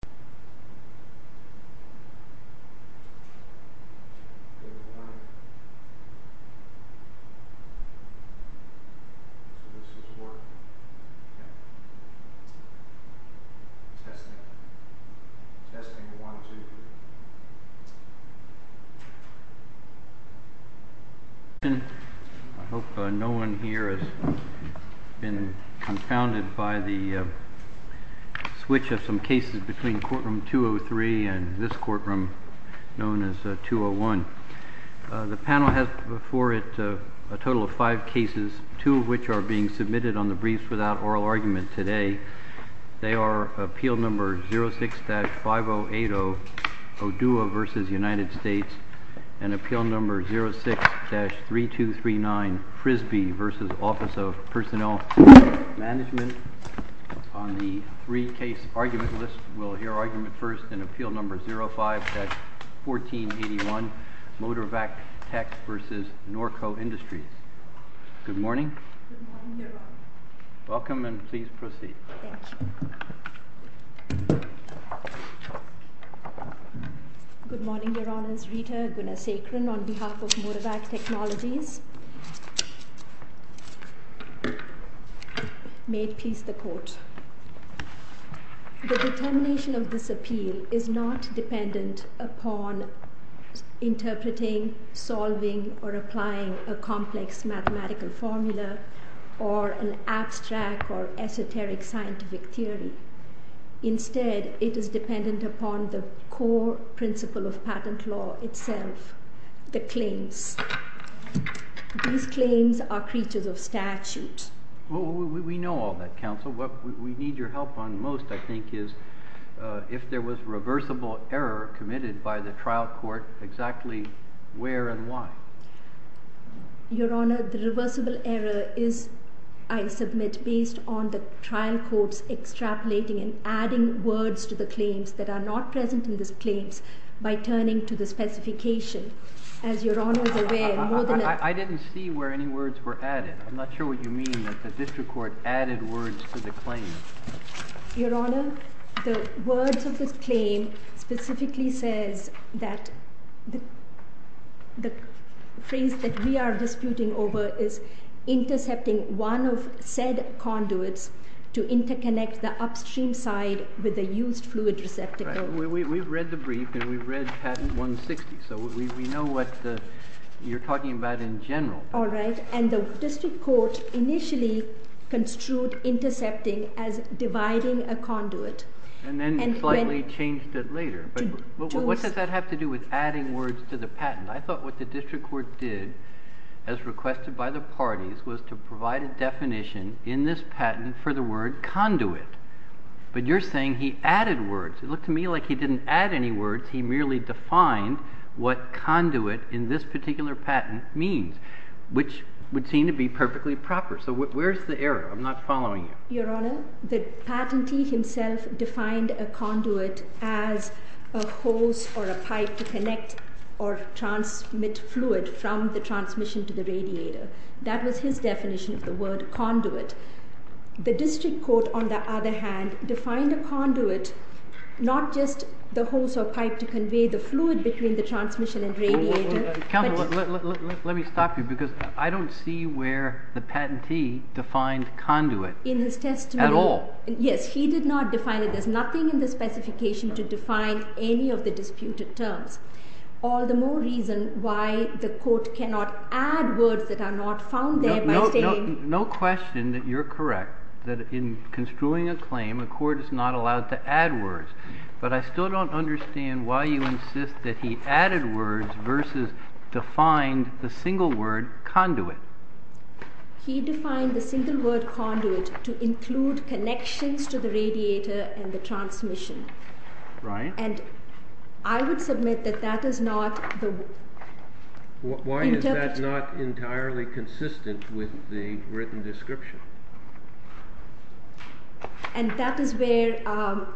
Good morning. This is work. Testing. Testing 1, 2, 3. I hope no one here has been confounded by the switch of some cases between courtroom 203 and this courtroom known as 201. The panel has before it a total of five cases, two of which are being submitted on the briefs without oral argument today. They are appeal number 06-5080 Odua v. United States and appeal number 06-3239 Frisbee v. Office of Personnel Management. On the three-case argument list, we'll hear argument first in appeal number 05-1481 Motorvac Tech v. Norco Industries. Good morning. Welcome and please proceed. Good morning, Your Honors. Rita Gunasekaran on behalf of Motorvac Technologies. The determination of this appeal is not dependent upon interpreting, solving or applying a complex mathematical formula or an abstract or esoteric scientific theory. Instead, it is dependent upon the core principle of patent law itself, the claims. These claims are creatures of statute. We know all that, Counsel. What we need your help on most, I think, is if there was reversible error committed by the trial court, exactly where and why. Your Honor, the reversible error is, I submit, based on the trial court's extrapolating and adding words to the claims that are not present in these claims by turning to the specification. As Your Honor is aware, more than enough... I didn't see where any words were added. I'm not sure what you mean that the district court added words to the claim. Your Honor, the words of this claim specifically says that the phrase that we are disputing over is intercepting one of said conduits to interconnect the upstream side with the used fluid receptacle. We've read the brief and we've read patent 160, so we know what you're talking about in general. All right. And the district court initially construed intercepting as dividing a conduit. And then slightly changed it later. But what does that have to do with adding words to the patent? I thought what the district court did, as requested by the parties, was to provide a definition in this patent for the word conduit. But you're saying he added words. It looked to me like he didn't add any words. He merely defined what conduit in this particular patent means. Which would seem to be perfectly proper. So where's the error? I'm not following you. Your Honor, the patentee himself defined a conduit as a hose or a pipe to connect or transmit fluid from the transmission to the radiator. That was his definition of the word conduit. The district court, on the other hand, defined a conduit not just the hose or pipe to convey the fluid between the transmission and radiator... Counsel, let me stop you. Because I don't see where the patentee defined conduit. In his testimony. At all. Yes, he did not define it. There's nothing in the specification to define any of the disputed terms. All the more reason why the court cannot add words that are not found there by saying... No question that you're correct. That in construing a claim, a court is not allowed to add words. But I still don't understand why you insist that he added words versus defined the single word conduit. He defined the single word conduit to include connections to the radiator and the transmission. Right. And I would submit that that is not... Why is that not entirely consistent with the written description? And that is where,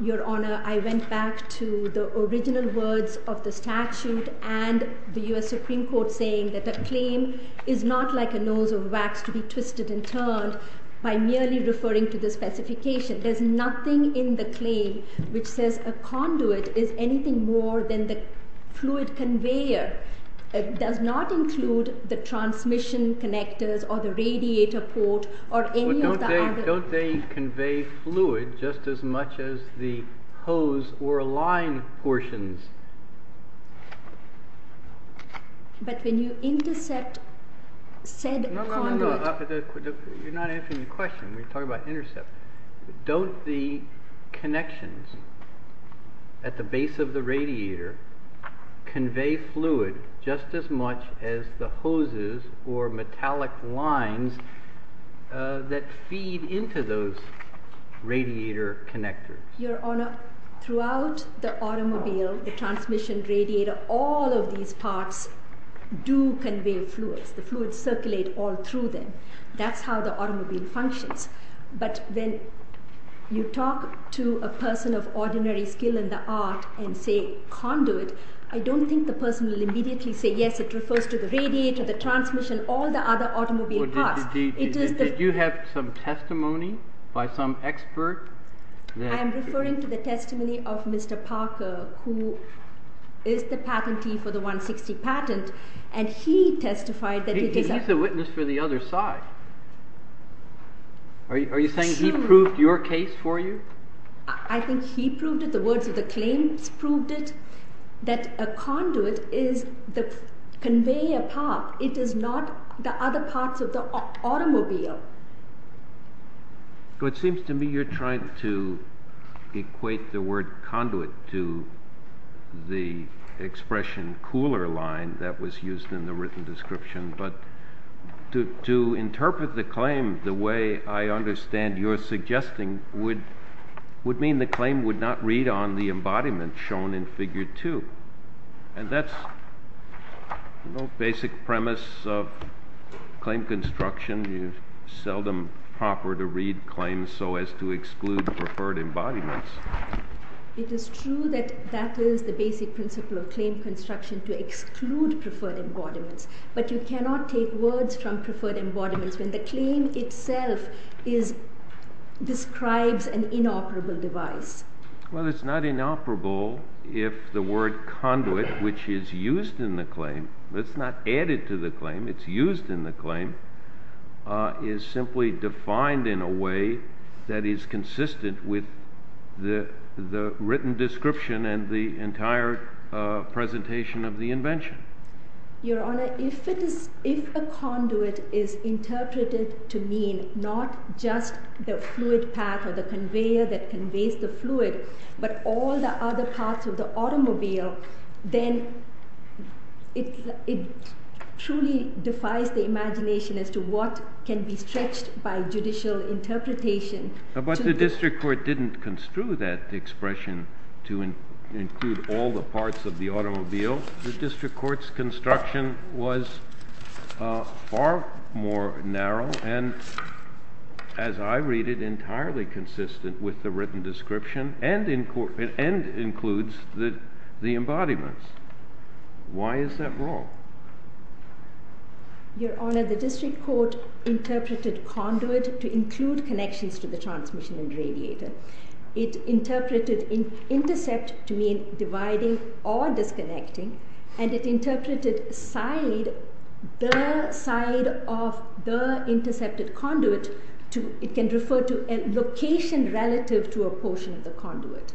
Your Honor, I went back to the original words of the statute and the U.S. Supreme Court saying that a claim is not like a nose of wax to be twisted and turned by merely referring to the specification. There's nothing in the claim which says a conduit is anything more than the fluid conveyor. It does not include the transmission connectors or the radiator port or any of the other... But don't they convey fluid just as much as the hose or line portions? But when you intercept said conduit... You're not answering the question. We're talking about intercept. Don't the connections at the base of the radiator convey fluid just as much as the hoses or metallic lines that feed into those radiator connectors? Your Honor, throughout the automobile, the transmission radiator, all of these parts do convey fluids. The fluids circulate all through them. That's how the automobile functions. But when you talk to a person of ordinary skill in the art and say conduit, I don't think the person will immediately say, yes, it refers to the radiator, the transmission, all the other automobile parts. Did you have some testimony by some expert? I am referring to the testimony of Mr. Parker, who is the patentee for the 160 patent, and he testified that it is... Are you saying he proved your case for you? I think he proved it. The words of the claims proved it. That a conduit conveys a path. It is not the other parts of the automobile. It seems to me you're trying to equate the word conduit to the expression cooler line that was used in the written description. But to interpret the claim the way I understand you're suggesting would mean the claim would not read on the embodiment shown in figure two. And that's the basic premise of claim construction. You seldom offer to read claims so as to exclude preferred embodiments. It is true that that is the basic principle of claim construction, to exclude preferred embodiments. But you cannot take words from preferred embodiments when the claim itself describes an inoperable device. Well, it's not inoperable if the word conduit, which is used in the claim, it's not added to the claim, it's used in the claim, is simply defined in a way that is consistent with the written description and the entire presentation of the invention. Your Honor, if a conduit is interpreted to mean not just the fluid path or the conveyor that conveys the fluid, but all the other parts of the automobile, then it truly defies the imagination as to what can be stretched by judicial interpretation. But the district court didn't construe that expression to include all the parts of the automobile. The district court's construction was far more narrow and, as I read it, entirely consistent with the written description and includes the embodiments. Why is that wrong? Your Honor, the district court interpreted conduit to include connections to the transmission and radiator. It interpreted intercept to mean dividing or disconnecting, and it interpreted side, the side of the intercepted conduit, it can refer to a location relative to a portion of the conduit.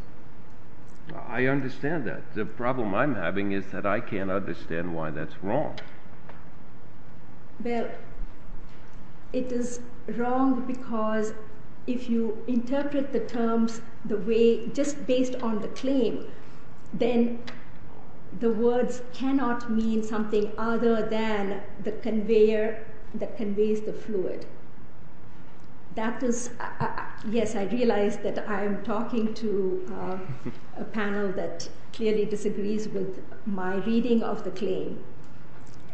I understand that. The problem I'm having is that I can't understand why that's wrong. Well, it is wrong because if you interpret the terms the way, just based on the claim, then the words cannot mean something other than the conveyor that conveys the fluid. Yes, I realize that I'm talking to a panel that clearly disagrees with my reading of the claim,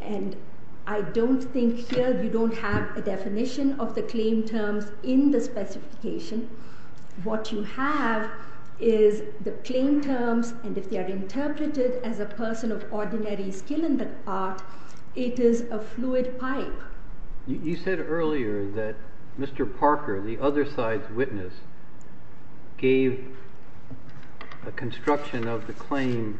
and I don't think here you don't have a definition of the claim terms in the specification. What you have is the claim terms, and if they are interpreted as a person of ordinary skill in the art, it is a fluid pipe. Your Honor, you said earlier that Mr. Parker, the other side's witness, gave a construction of the claim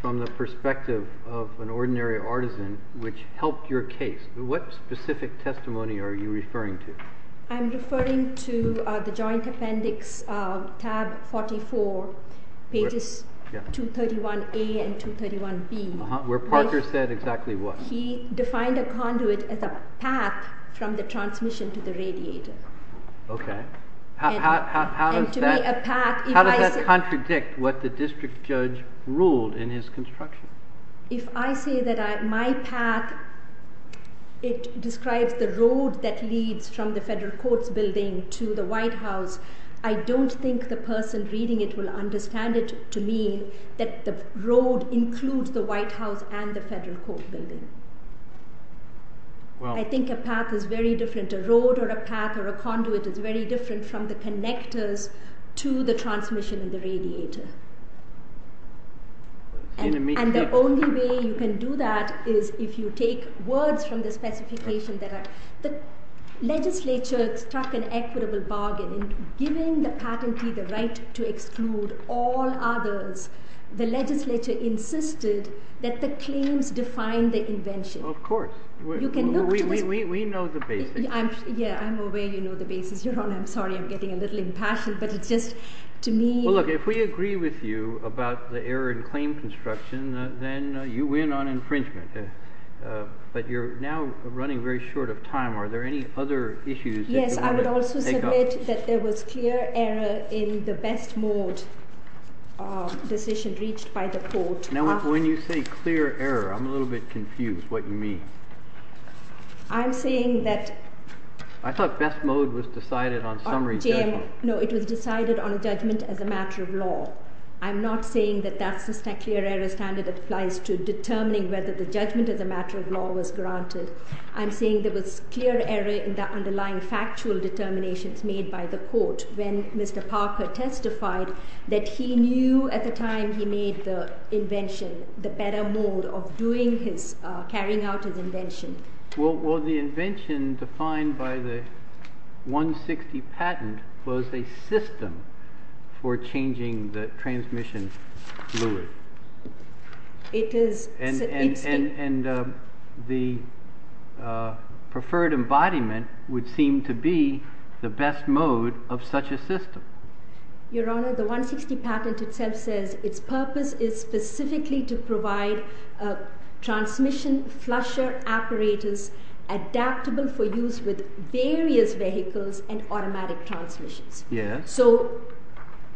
from the perspective of an ordinary artisan, which helped your case. What specific testimony are you referring to? I'm referring to the joint appendix, tab 44, pages 231A and 231B. Where Parker said exactly what? He defined a conduit as a path from the transmission to the radiator. Okay. How does that contradict what the district judge ruled in his construction? If I say that my path, it describes the road that leads from the federal courts building to the White House, I don't think the person reading it will understand it to mean that the road includes the White House and the federal court building. I think a path is very different. A road or a path or a conduit is very different from the connectors to the transmission and the radiator. And the only way you can do that is if you take words from the specification. The legislature struck an equitable bargain in giving the patentee the right to exclude all others. The legislature insisted that the claims define the invention. Of course. We know the basics. Yeah, I'm aware you know the basics. Your Honor, I'm sorry, I'm getting a little impassioned. Well, look, if we agree with you about the error in claim construction, then you win on infringement. But you're now running very short of time. Are there any other issues that you want to take up? Yes, I would also submit that there was clear error in the best mode decision reached by the court. Now, when you say clear error, I'm a little bit confused what you mean. I'm saying that... I thought best mode was decided on summary judgment. No, it was decided on a judgment as a matter of law. I'm not saying that that's a clear error standard that applies to determining whether the judgment as a matter of law was granted. I'm saying there was clear error in the underlying factual determinations made by the court when Mr. Parker testified that he knew at the time he made the invention, the better mode of doing his, carrying out his invention. Well, the invention defined by the 160 patent was a system for changing the transmission fluid. It is... And the preferred embodiment would seem to be the best mode of such a system. Your Honor, the 160 patent itself says its purpose is specifically to provide transmission flusher apparatus adaptable for use with various vehicles and automatic transmissions. Yes. So,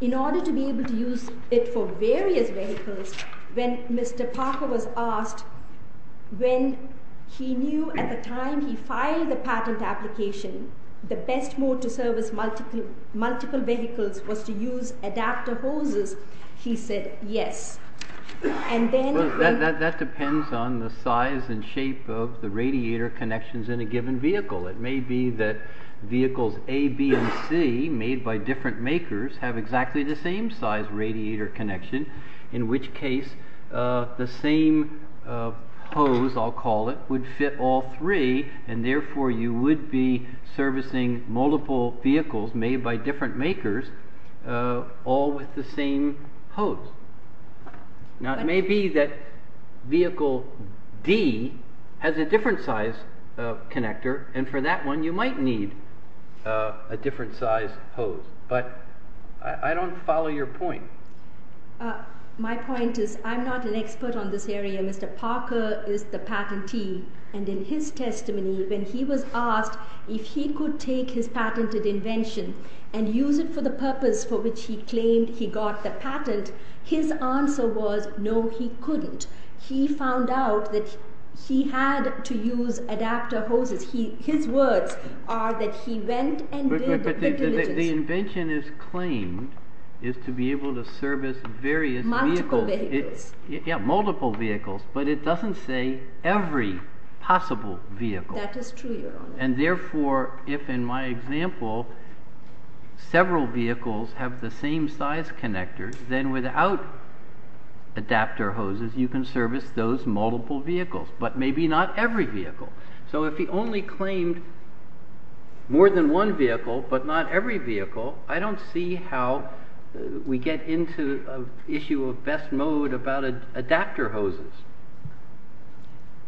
in order to be able to use it for various vehicles, when Mr. Parker was asked when he knew at the time he filed the patent application, the best mode to service multiple vehicles was to use adapter hoses, he said yes. And then... That depends on the size and shape of the radiator connections in a given vehicle. It may be that vehicles A, B, and C made by different makers have exactly the same size radiator connection, in which case the same hose, I'll call it, would fit all three, and therefore you would be servicing multiple vehicles made by different makers all with the same hose. Now, it may be that vehicle D has a different size connector, and for that one you might need a different size hose, but I don't follow your point. My point is I'm not an expert on this area. Mr. Parker is the patentee, and in his testimony, when he was asked if he could take his patented invention and use it for the purpose for which he claimed he got the patent, his answer was no, he couldn't. He found out that he had to use adapter hoses. His words are that he went and did the diligence. The invention is claimed is to be able to service various vehicles. Multiple vehicles. Yeah, multiple vehicles, but it doesn't say every possible vehicle. That is true, your honor. And therefore, if in my example several vehicles have the same size connectors, then without adapter hoses you can service those multiple vehicles, but maybe not every vehicle. So if he only claimed more than one vehicle, but not every vehicle, I don't see how we get into an issue of best mode about adapter hoses.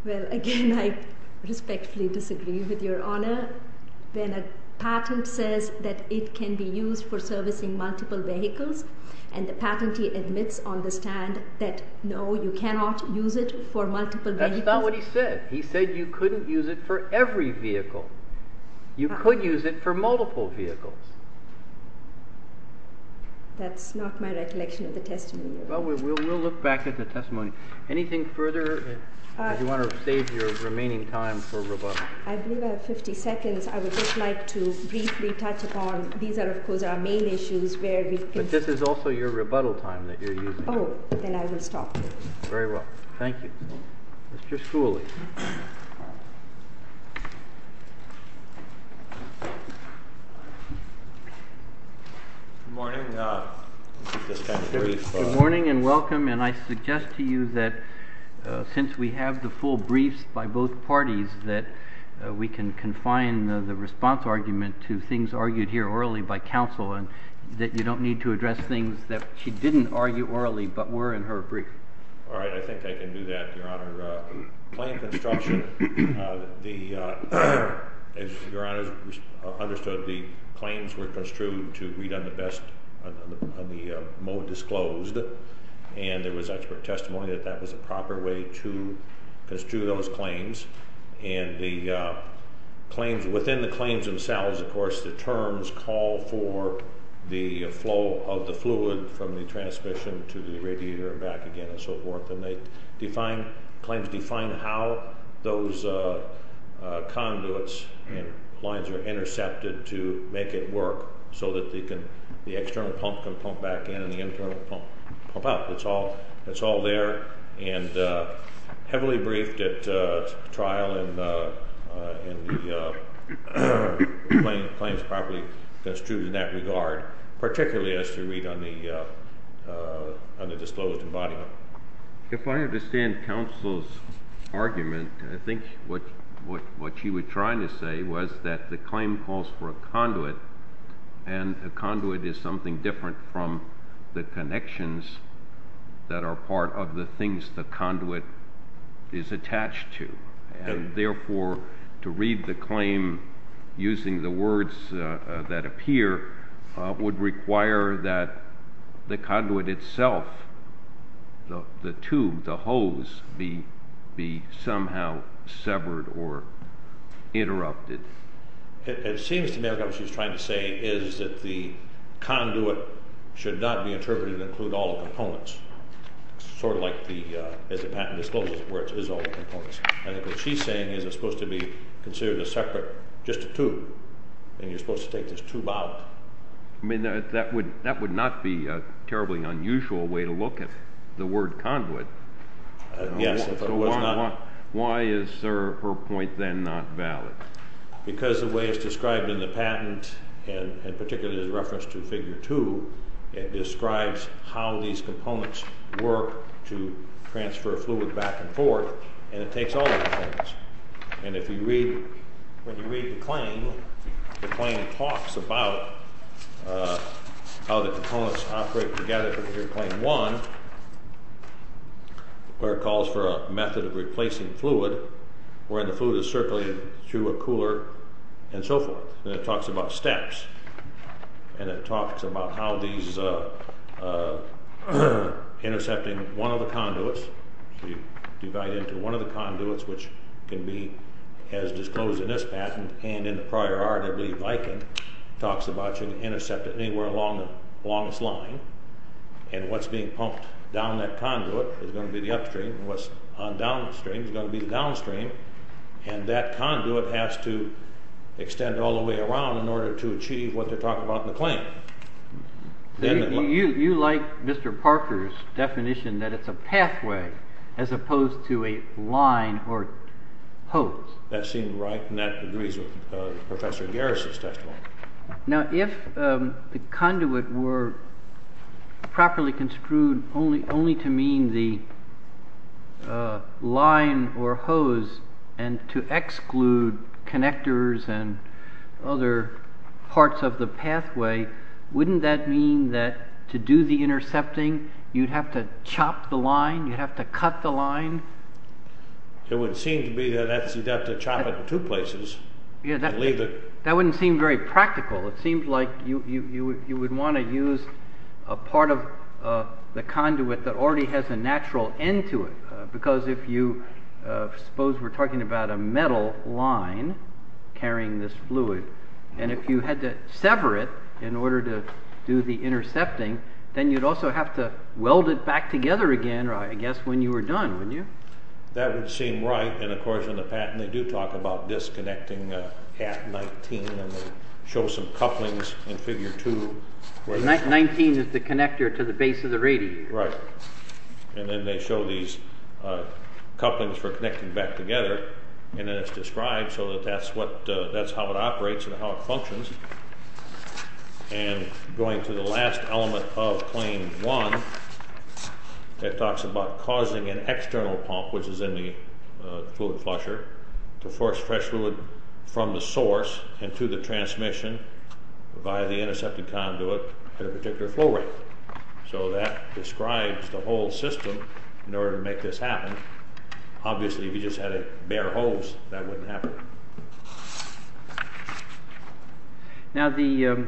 Well, again, I respectfully disagree with your honor. When a patent says that it can be used for servicing multiple vehicles, and the patentee admits on the stand that no, you cannot use it for multiple vehicles. That's not what he said. He said you couldn't use it for every vehicle. You could use it for multiple vehicles. That's not my recollection of the testimony. Well, we'll look back at the testimony. Anything further? If you want to save your remaining time for rebuttal. I believe I have 50 seconds. I would just like to briefly touch upon, these are, of course, our main issues. But this is also your rebuttal time that you're using. Oh, then I will stop. Very well. Thank you. Mr. Schooley. Good morning, and welcome. And I suggest to you that since we have the full briefs by both parties, that we can confine the response argument to things argued here orally by counsel, and that you don't need to address things that she didn't argue orally but were in her brief. All right. I think I can do that, Your Honor. Claim construction, as Your Honor understood, the claims were construed to read on the best, on the mode disclosed. And there was expert testimony that that was a proper way to construe those claims. And the claims, within the claims themselves, of course, the terms call for the flow of the fluid from the transmission to the radiator and back again and so forth. And they define, claims define how those conduits and lines are intercepted to make it work so that the external pump can pump back in and the internal pump out. That's all there. And heavily briefed at trial in the claims properly construed in that regard, particularly as you read on the disclosed embodiment. If I understand counsel's argument, I think what she was trying to say was that the claim calls for a conduit, and a conduit is something different from the connections that are part of the things the conduit is attached to. And therefore, to read the claim using the words that appear would require that the conduit itself, the tube, the hose, be somehow severed or interrupted. It seems to me what she was trying to say is that the conduit should not be interpreted to include all the components. Sort of like the patent discloses where it is all the components. I think what she's saying is it's supposed to be considered a separate, just a tube, and you're supposed to take this tube out. I mean, that would not be a terribly unusual way to look at the word conduit. Yes, if it was not. Why is her point then not valid? Because the way it's described in the patent, and particularly in reference to Figure 2, it describes how these components work to transfer fluid back and forth, and it takes all of the things. And if you read, when you read the claim, the claim talks about how the components operate together. Here's Claim 1, where it calls for a method of replacing fluid, where the fluid is circling through a cooler, and so forth. And it talks about steps. And it talks about how these, intercepting one of the conduits, you divide into one of the conduits, which can be as disclosed in this patent and in the prior art, I believe, Viking, talks about you can intercept it anywhere along its line. And what's being pumped down that conduit is going to be the upstream, and what's on downstream is going to be the downstream. And that conduit has to extend all the way around in order to achieve what they're talking about in the claim. You like Mr. Parker's definition that it's a pathway as opposed to a line or hose. That seemed right, and that agrees with Professor Garrison's testimony. Now, if the conduit were properly construed only to mean the line or hose, and to exclude connectors and other parts of the pathway, wouldn't that mean that to do the intercepting, you'd have to chop the line? You'd have to cut the line? It would seem to be that you'd have to chop it in two places. That wouldn't seem very practical. It seems like you would want to use a part of the conduit that already has a natural end to it. Because if you, suppose we're talking about a metal line carrying this fluid, and if you had to sever it in order to do the intercepting, then you'd also have to weld it back together again, I guess, when you were done, wouldn't you? That would seem right, and of course in the patent they do talk about disconnecting at 19, and they show some couplings in figure 2. 19 is the connector to the base of the radiator. Right. And then they show these couplings for connecting back together, and then it's described so that that's how it operates and how it functions. And going to the last element of claim 1, it talks about causing an external pump, which is in the fluid flusher, to force fresh fluid from the source into the transmission via the intercepting conduit at a particular flow rate. So that describes the whole system in order to make this happen. Obviously if you just had a bare hose, that wouldn't happen. Now the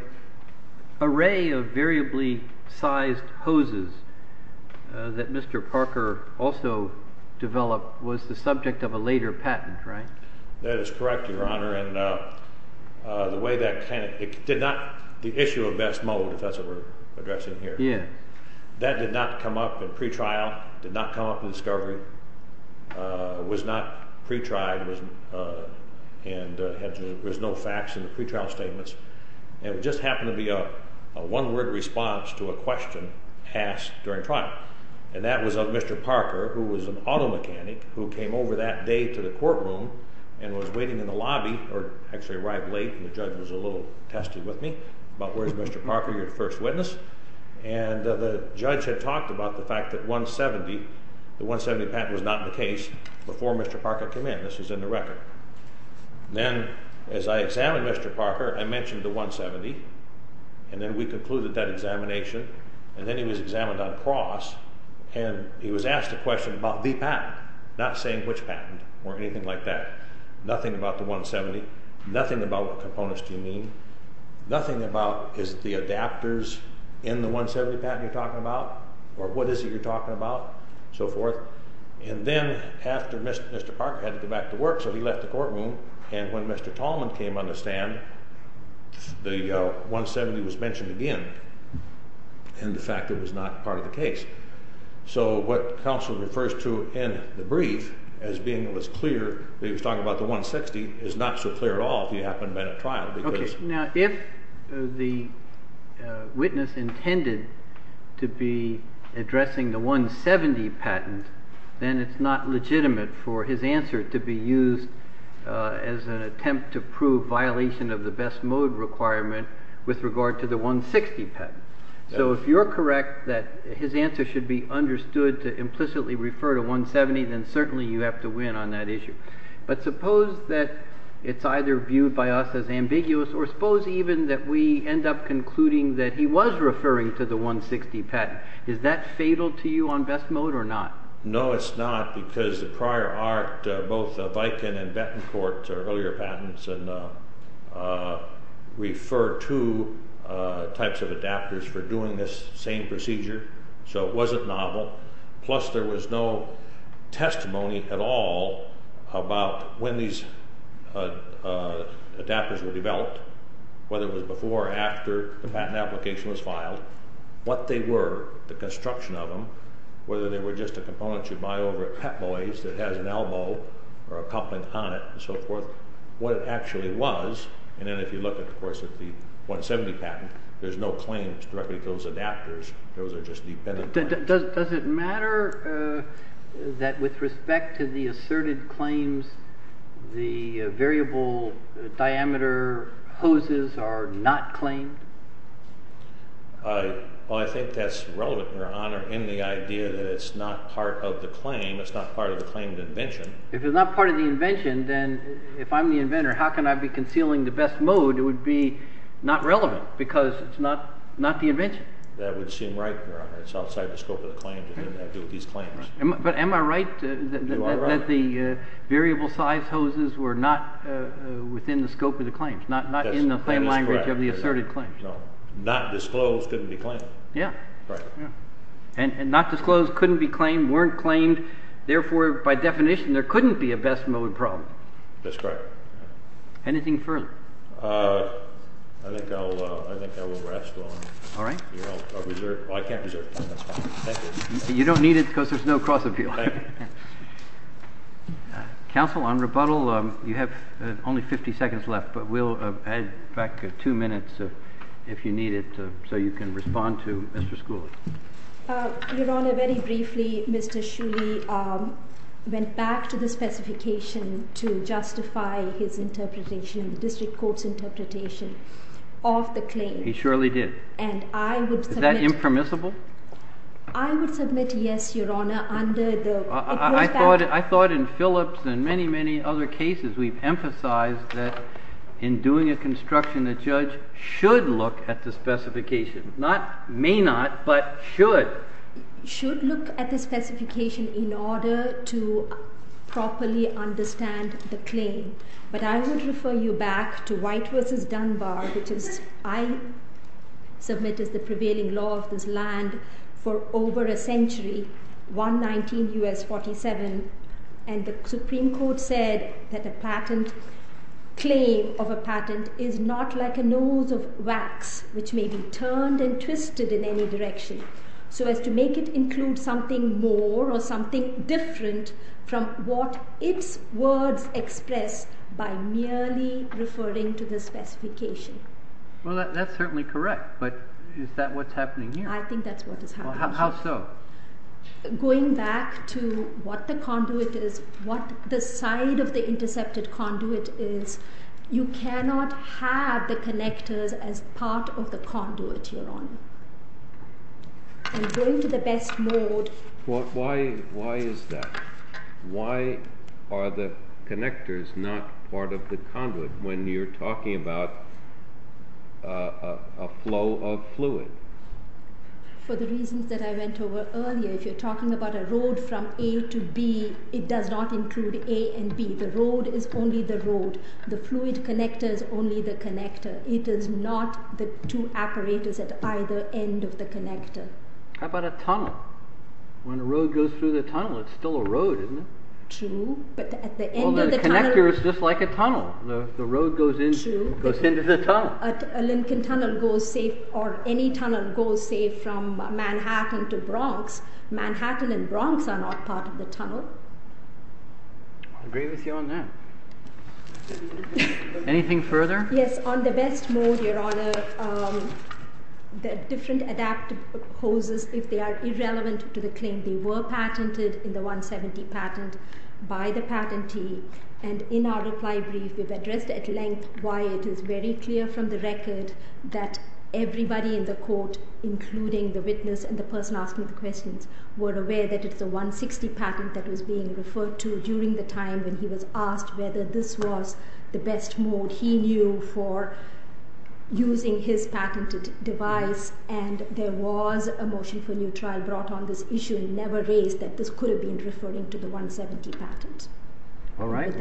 array of variably sized hoses that Mr. Parker also developed was the subject of a later patent, right? That is correct, Your Honor, and the way that kind of, it did not, the issue of best mold, if that's what we're addressing here, that did not come up in pre-trial, did not come up in discovery, was not pre-tried, and there was no facts in the pre-trial statements. It just happened to be a one-word response to a question asked during trial. And that was of Mr. Parker, who was an auto mechanic, who came over that day to the courtroom and was waiting in the lobby, or actually arrived late, and the judge was a little testy with me about where's Mr. Parker, your first witness, and the judge had talked about the fact that 170, the 170 patent was not in the case before Mr. Parker came in. This is in the record. Then as I examined Mr. Parker, I mentioned the 170, and then we concluded that examination, and then he was examined on cross, and he was asked a question about the patent, not saying which patent or anything like that. Nothing about the 170, nothing about what components do you mean, nothing about is the adapters in the 170 patent you're talking about, or what is it you're talking about, so forth. And then after Mr. Parker had to go back to work, so he left the courtroom, and when Mr. Tallman came on the stand, the 170 was mentioned again, and the fact that it was not part of the case. So what counsel refers to in the brief as being clear that he was talking about the 160 is not so clear at all if you haven't been at trial. Okay, now if the witness intended to be addressing the 170 patent, then it's not legitimate for his answer to be used as an attempt to prove violation of the best mode requirement with regard to the 160 patent. So if you're correct that his answer should be understood to implicitly refer to 170, then certainly you have to win on that issue. But suppose that it's either viewed by us as ambiguous, or suppose even that we end up concluding that he was referring to the 160 patent. Is that fatal to you on best mode or not? No, it's not, because the prior art, both Viken and Bettencourt, earlier patents, refer to types of adapters for doing this same procedure, so it wasn't novel. Plus there was no testimony at all about when these adapters were developed, whether it was before or after the patent application was filed, what they were, the construction of them, whether they were just a component you buy over at Pep Boys that has an elbow or a coupling on it and so forth, what it actually was, and then if you look of course at the 170 patent, there's no claims directly to those adapters, those are just dependent claims. Does it matter that with respect to the asserted claims, the variable diameter hoses are not claimed? Well, I think that's relevant, Your Honor, in the idea that it's not part of the claim, it's not part of the claimed invention. If it's not part of the invention, then if I'm the inventor, how can I be concealing the best mode? It would be not relevant, because it's not the invention. That would seem right, Your Honor. It's outside the scope of the claim to do with these claims. But am I right that the variable size hoses were not within the scope of the claims, not in the plain language of the asserted claims? No. Not disclosed couldn't be claimed. Yeah. And not disclosed couldn't be claimed, weren't claimed, therefore by definition there couldn't be a best mode problem. That's correct. Anything further? I think I will rest on it. All right. I can't reserve it. You don't need it, because there's no cross-appeal. Counsel, on rebuttal, you have only 50 seconds left, but we'll add back two minutes if you need it, so you can respond to Mr. Schooley. Your Honor, very briefly, Mr. Schooley went back to the specification to justify his interpretation, the district court's interpretation of the claim. He surely did. Is that impermissible? I would submit yes, Your Honor. I thought in Phillips and many, many other cases we've emphasized that in doing a construction, a judge should look at the specification. Not may not, but should. Should look at the specification in order to properly understand the claim. But I would refer you back to White v. Dunbar, which I submit is the prevailing law of this land for over a century, 119 U.S. 47. And the Supreme Court said that a patent claim of a patent is not like a nose of wax, which may be turned and twisted in any direction. So as to make it include something more or something different from what its words express by merely referring to the specification. Well, that's certainly correct, but is that what's happening here? I think that's what is happening. How so? Going back to what the conduit is, what the side of the intercepted conduit is, you cannot have the connectors as part of the conduit, Your Honor. I'm going to the best mode. Why is that? Why are the connectors not part of the conduit when you're talking about a flow of fluid? For the reasons that I went over earlier, if you're talking about a road from A to B, it does not include A and B. The road is only the road. The fluid connector is only the connector. It is not the two apparatus at either end of the connector. How about a tunnel? When a road goes through the tunnel, it's still a road, isn't it? True, but at the end of the tunnel... Well, the connector is just like a tunnel. The road goes into the tunnel. A Lincoln Tunnel goes, or any tunnel goes, say, from Manhattan to Bronx. Manhattan and Bronx are not part of the tunnel. I agree with you on that. Anything further? Yes, on the best mode, Your Honor, the different adaptive hoses, if they are irrelevant to the claim, they were patented in the 170 patent by the patentee. And in our reply brief, we've addressed at length why it is very clear from the record that everybody in the court, including the witness and the person asking the questions, were aware that it's a 160 patent that was being referred to during the time when he was asked whether this was the best mode he knew for using his patented device. And there was a motion for new trial brought on this issue, never raised that this could have been referring to the 170 patent. All right.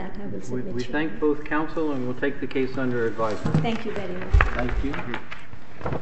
We thank both counsel, and we'll take the case under advisory. Thank you very much. Thank you.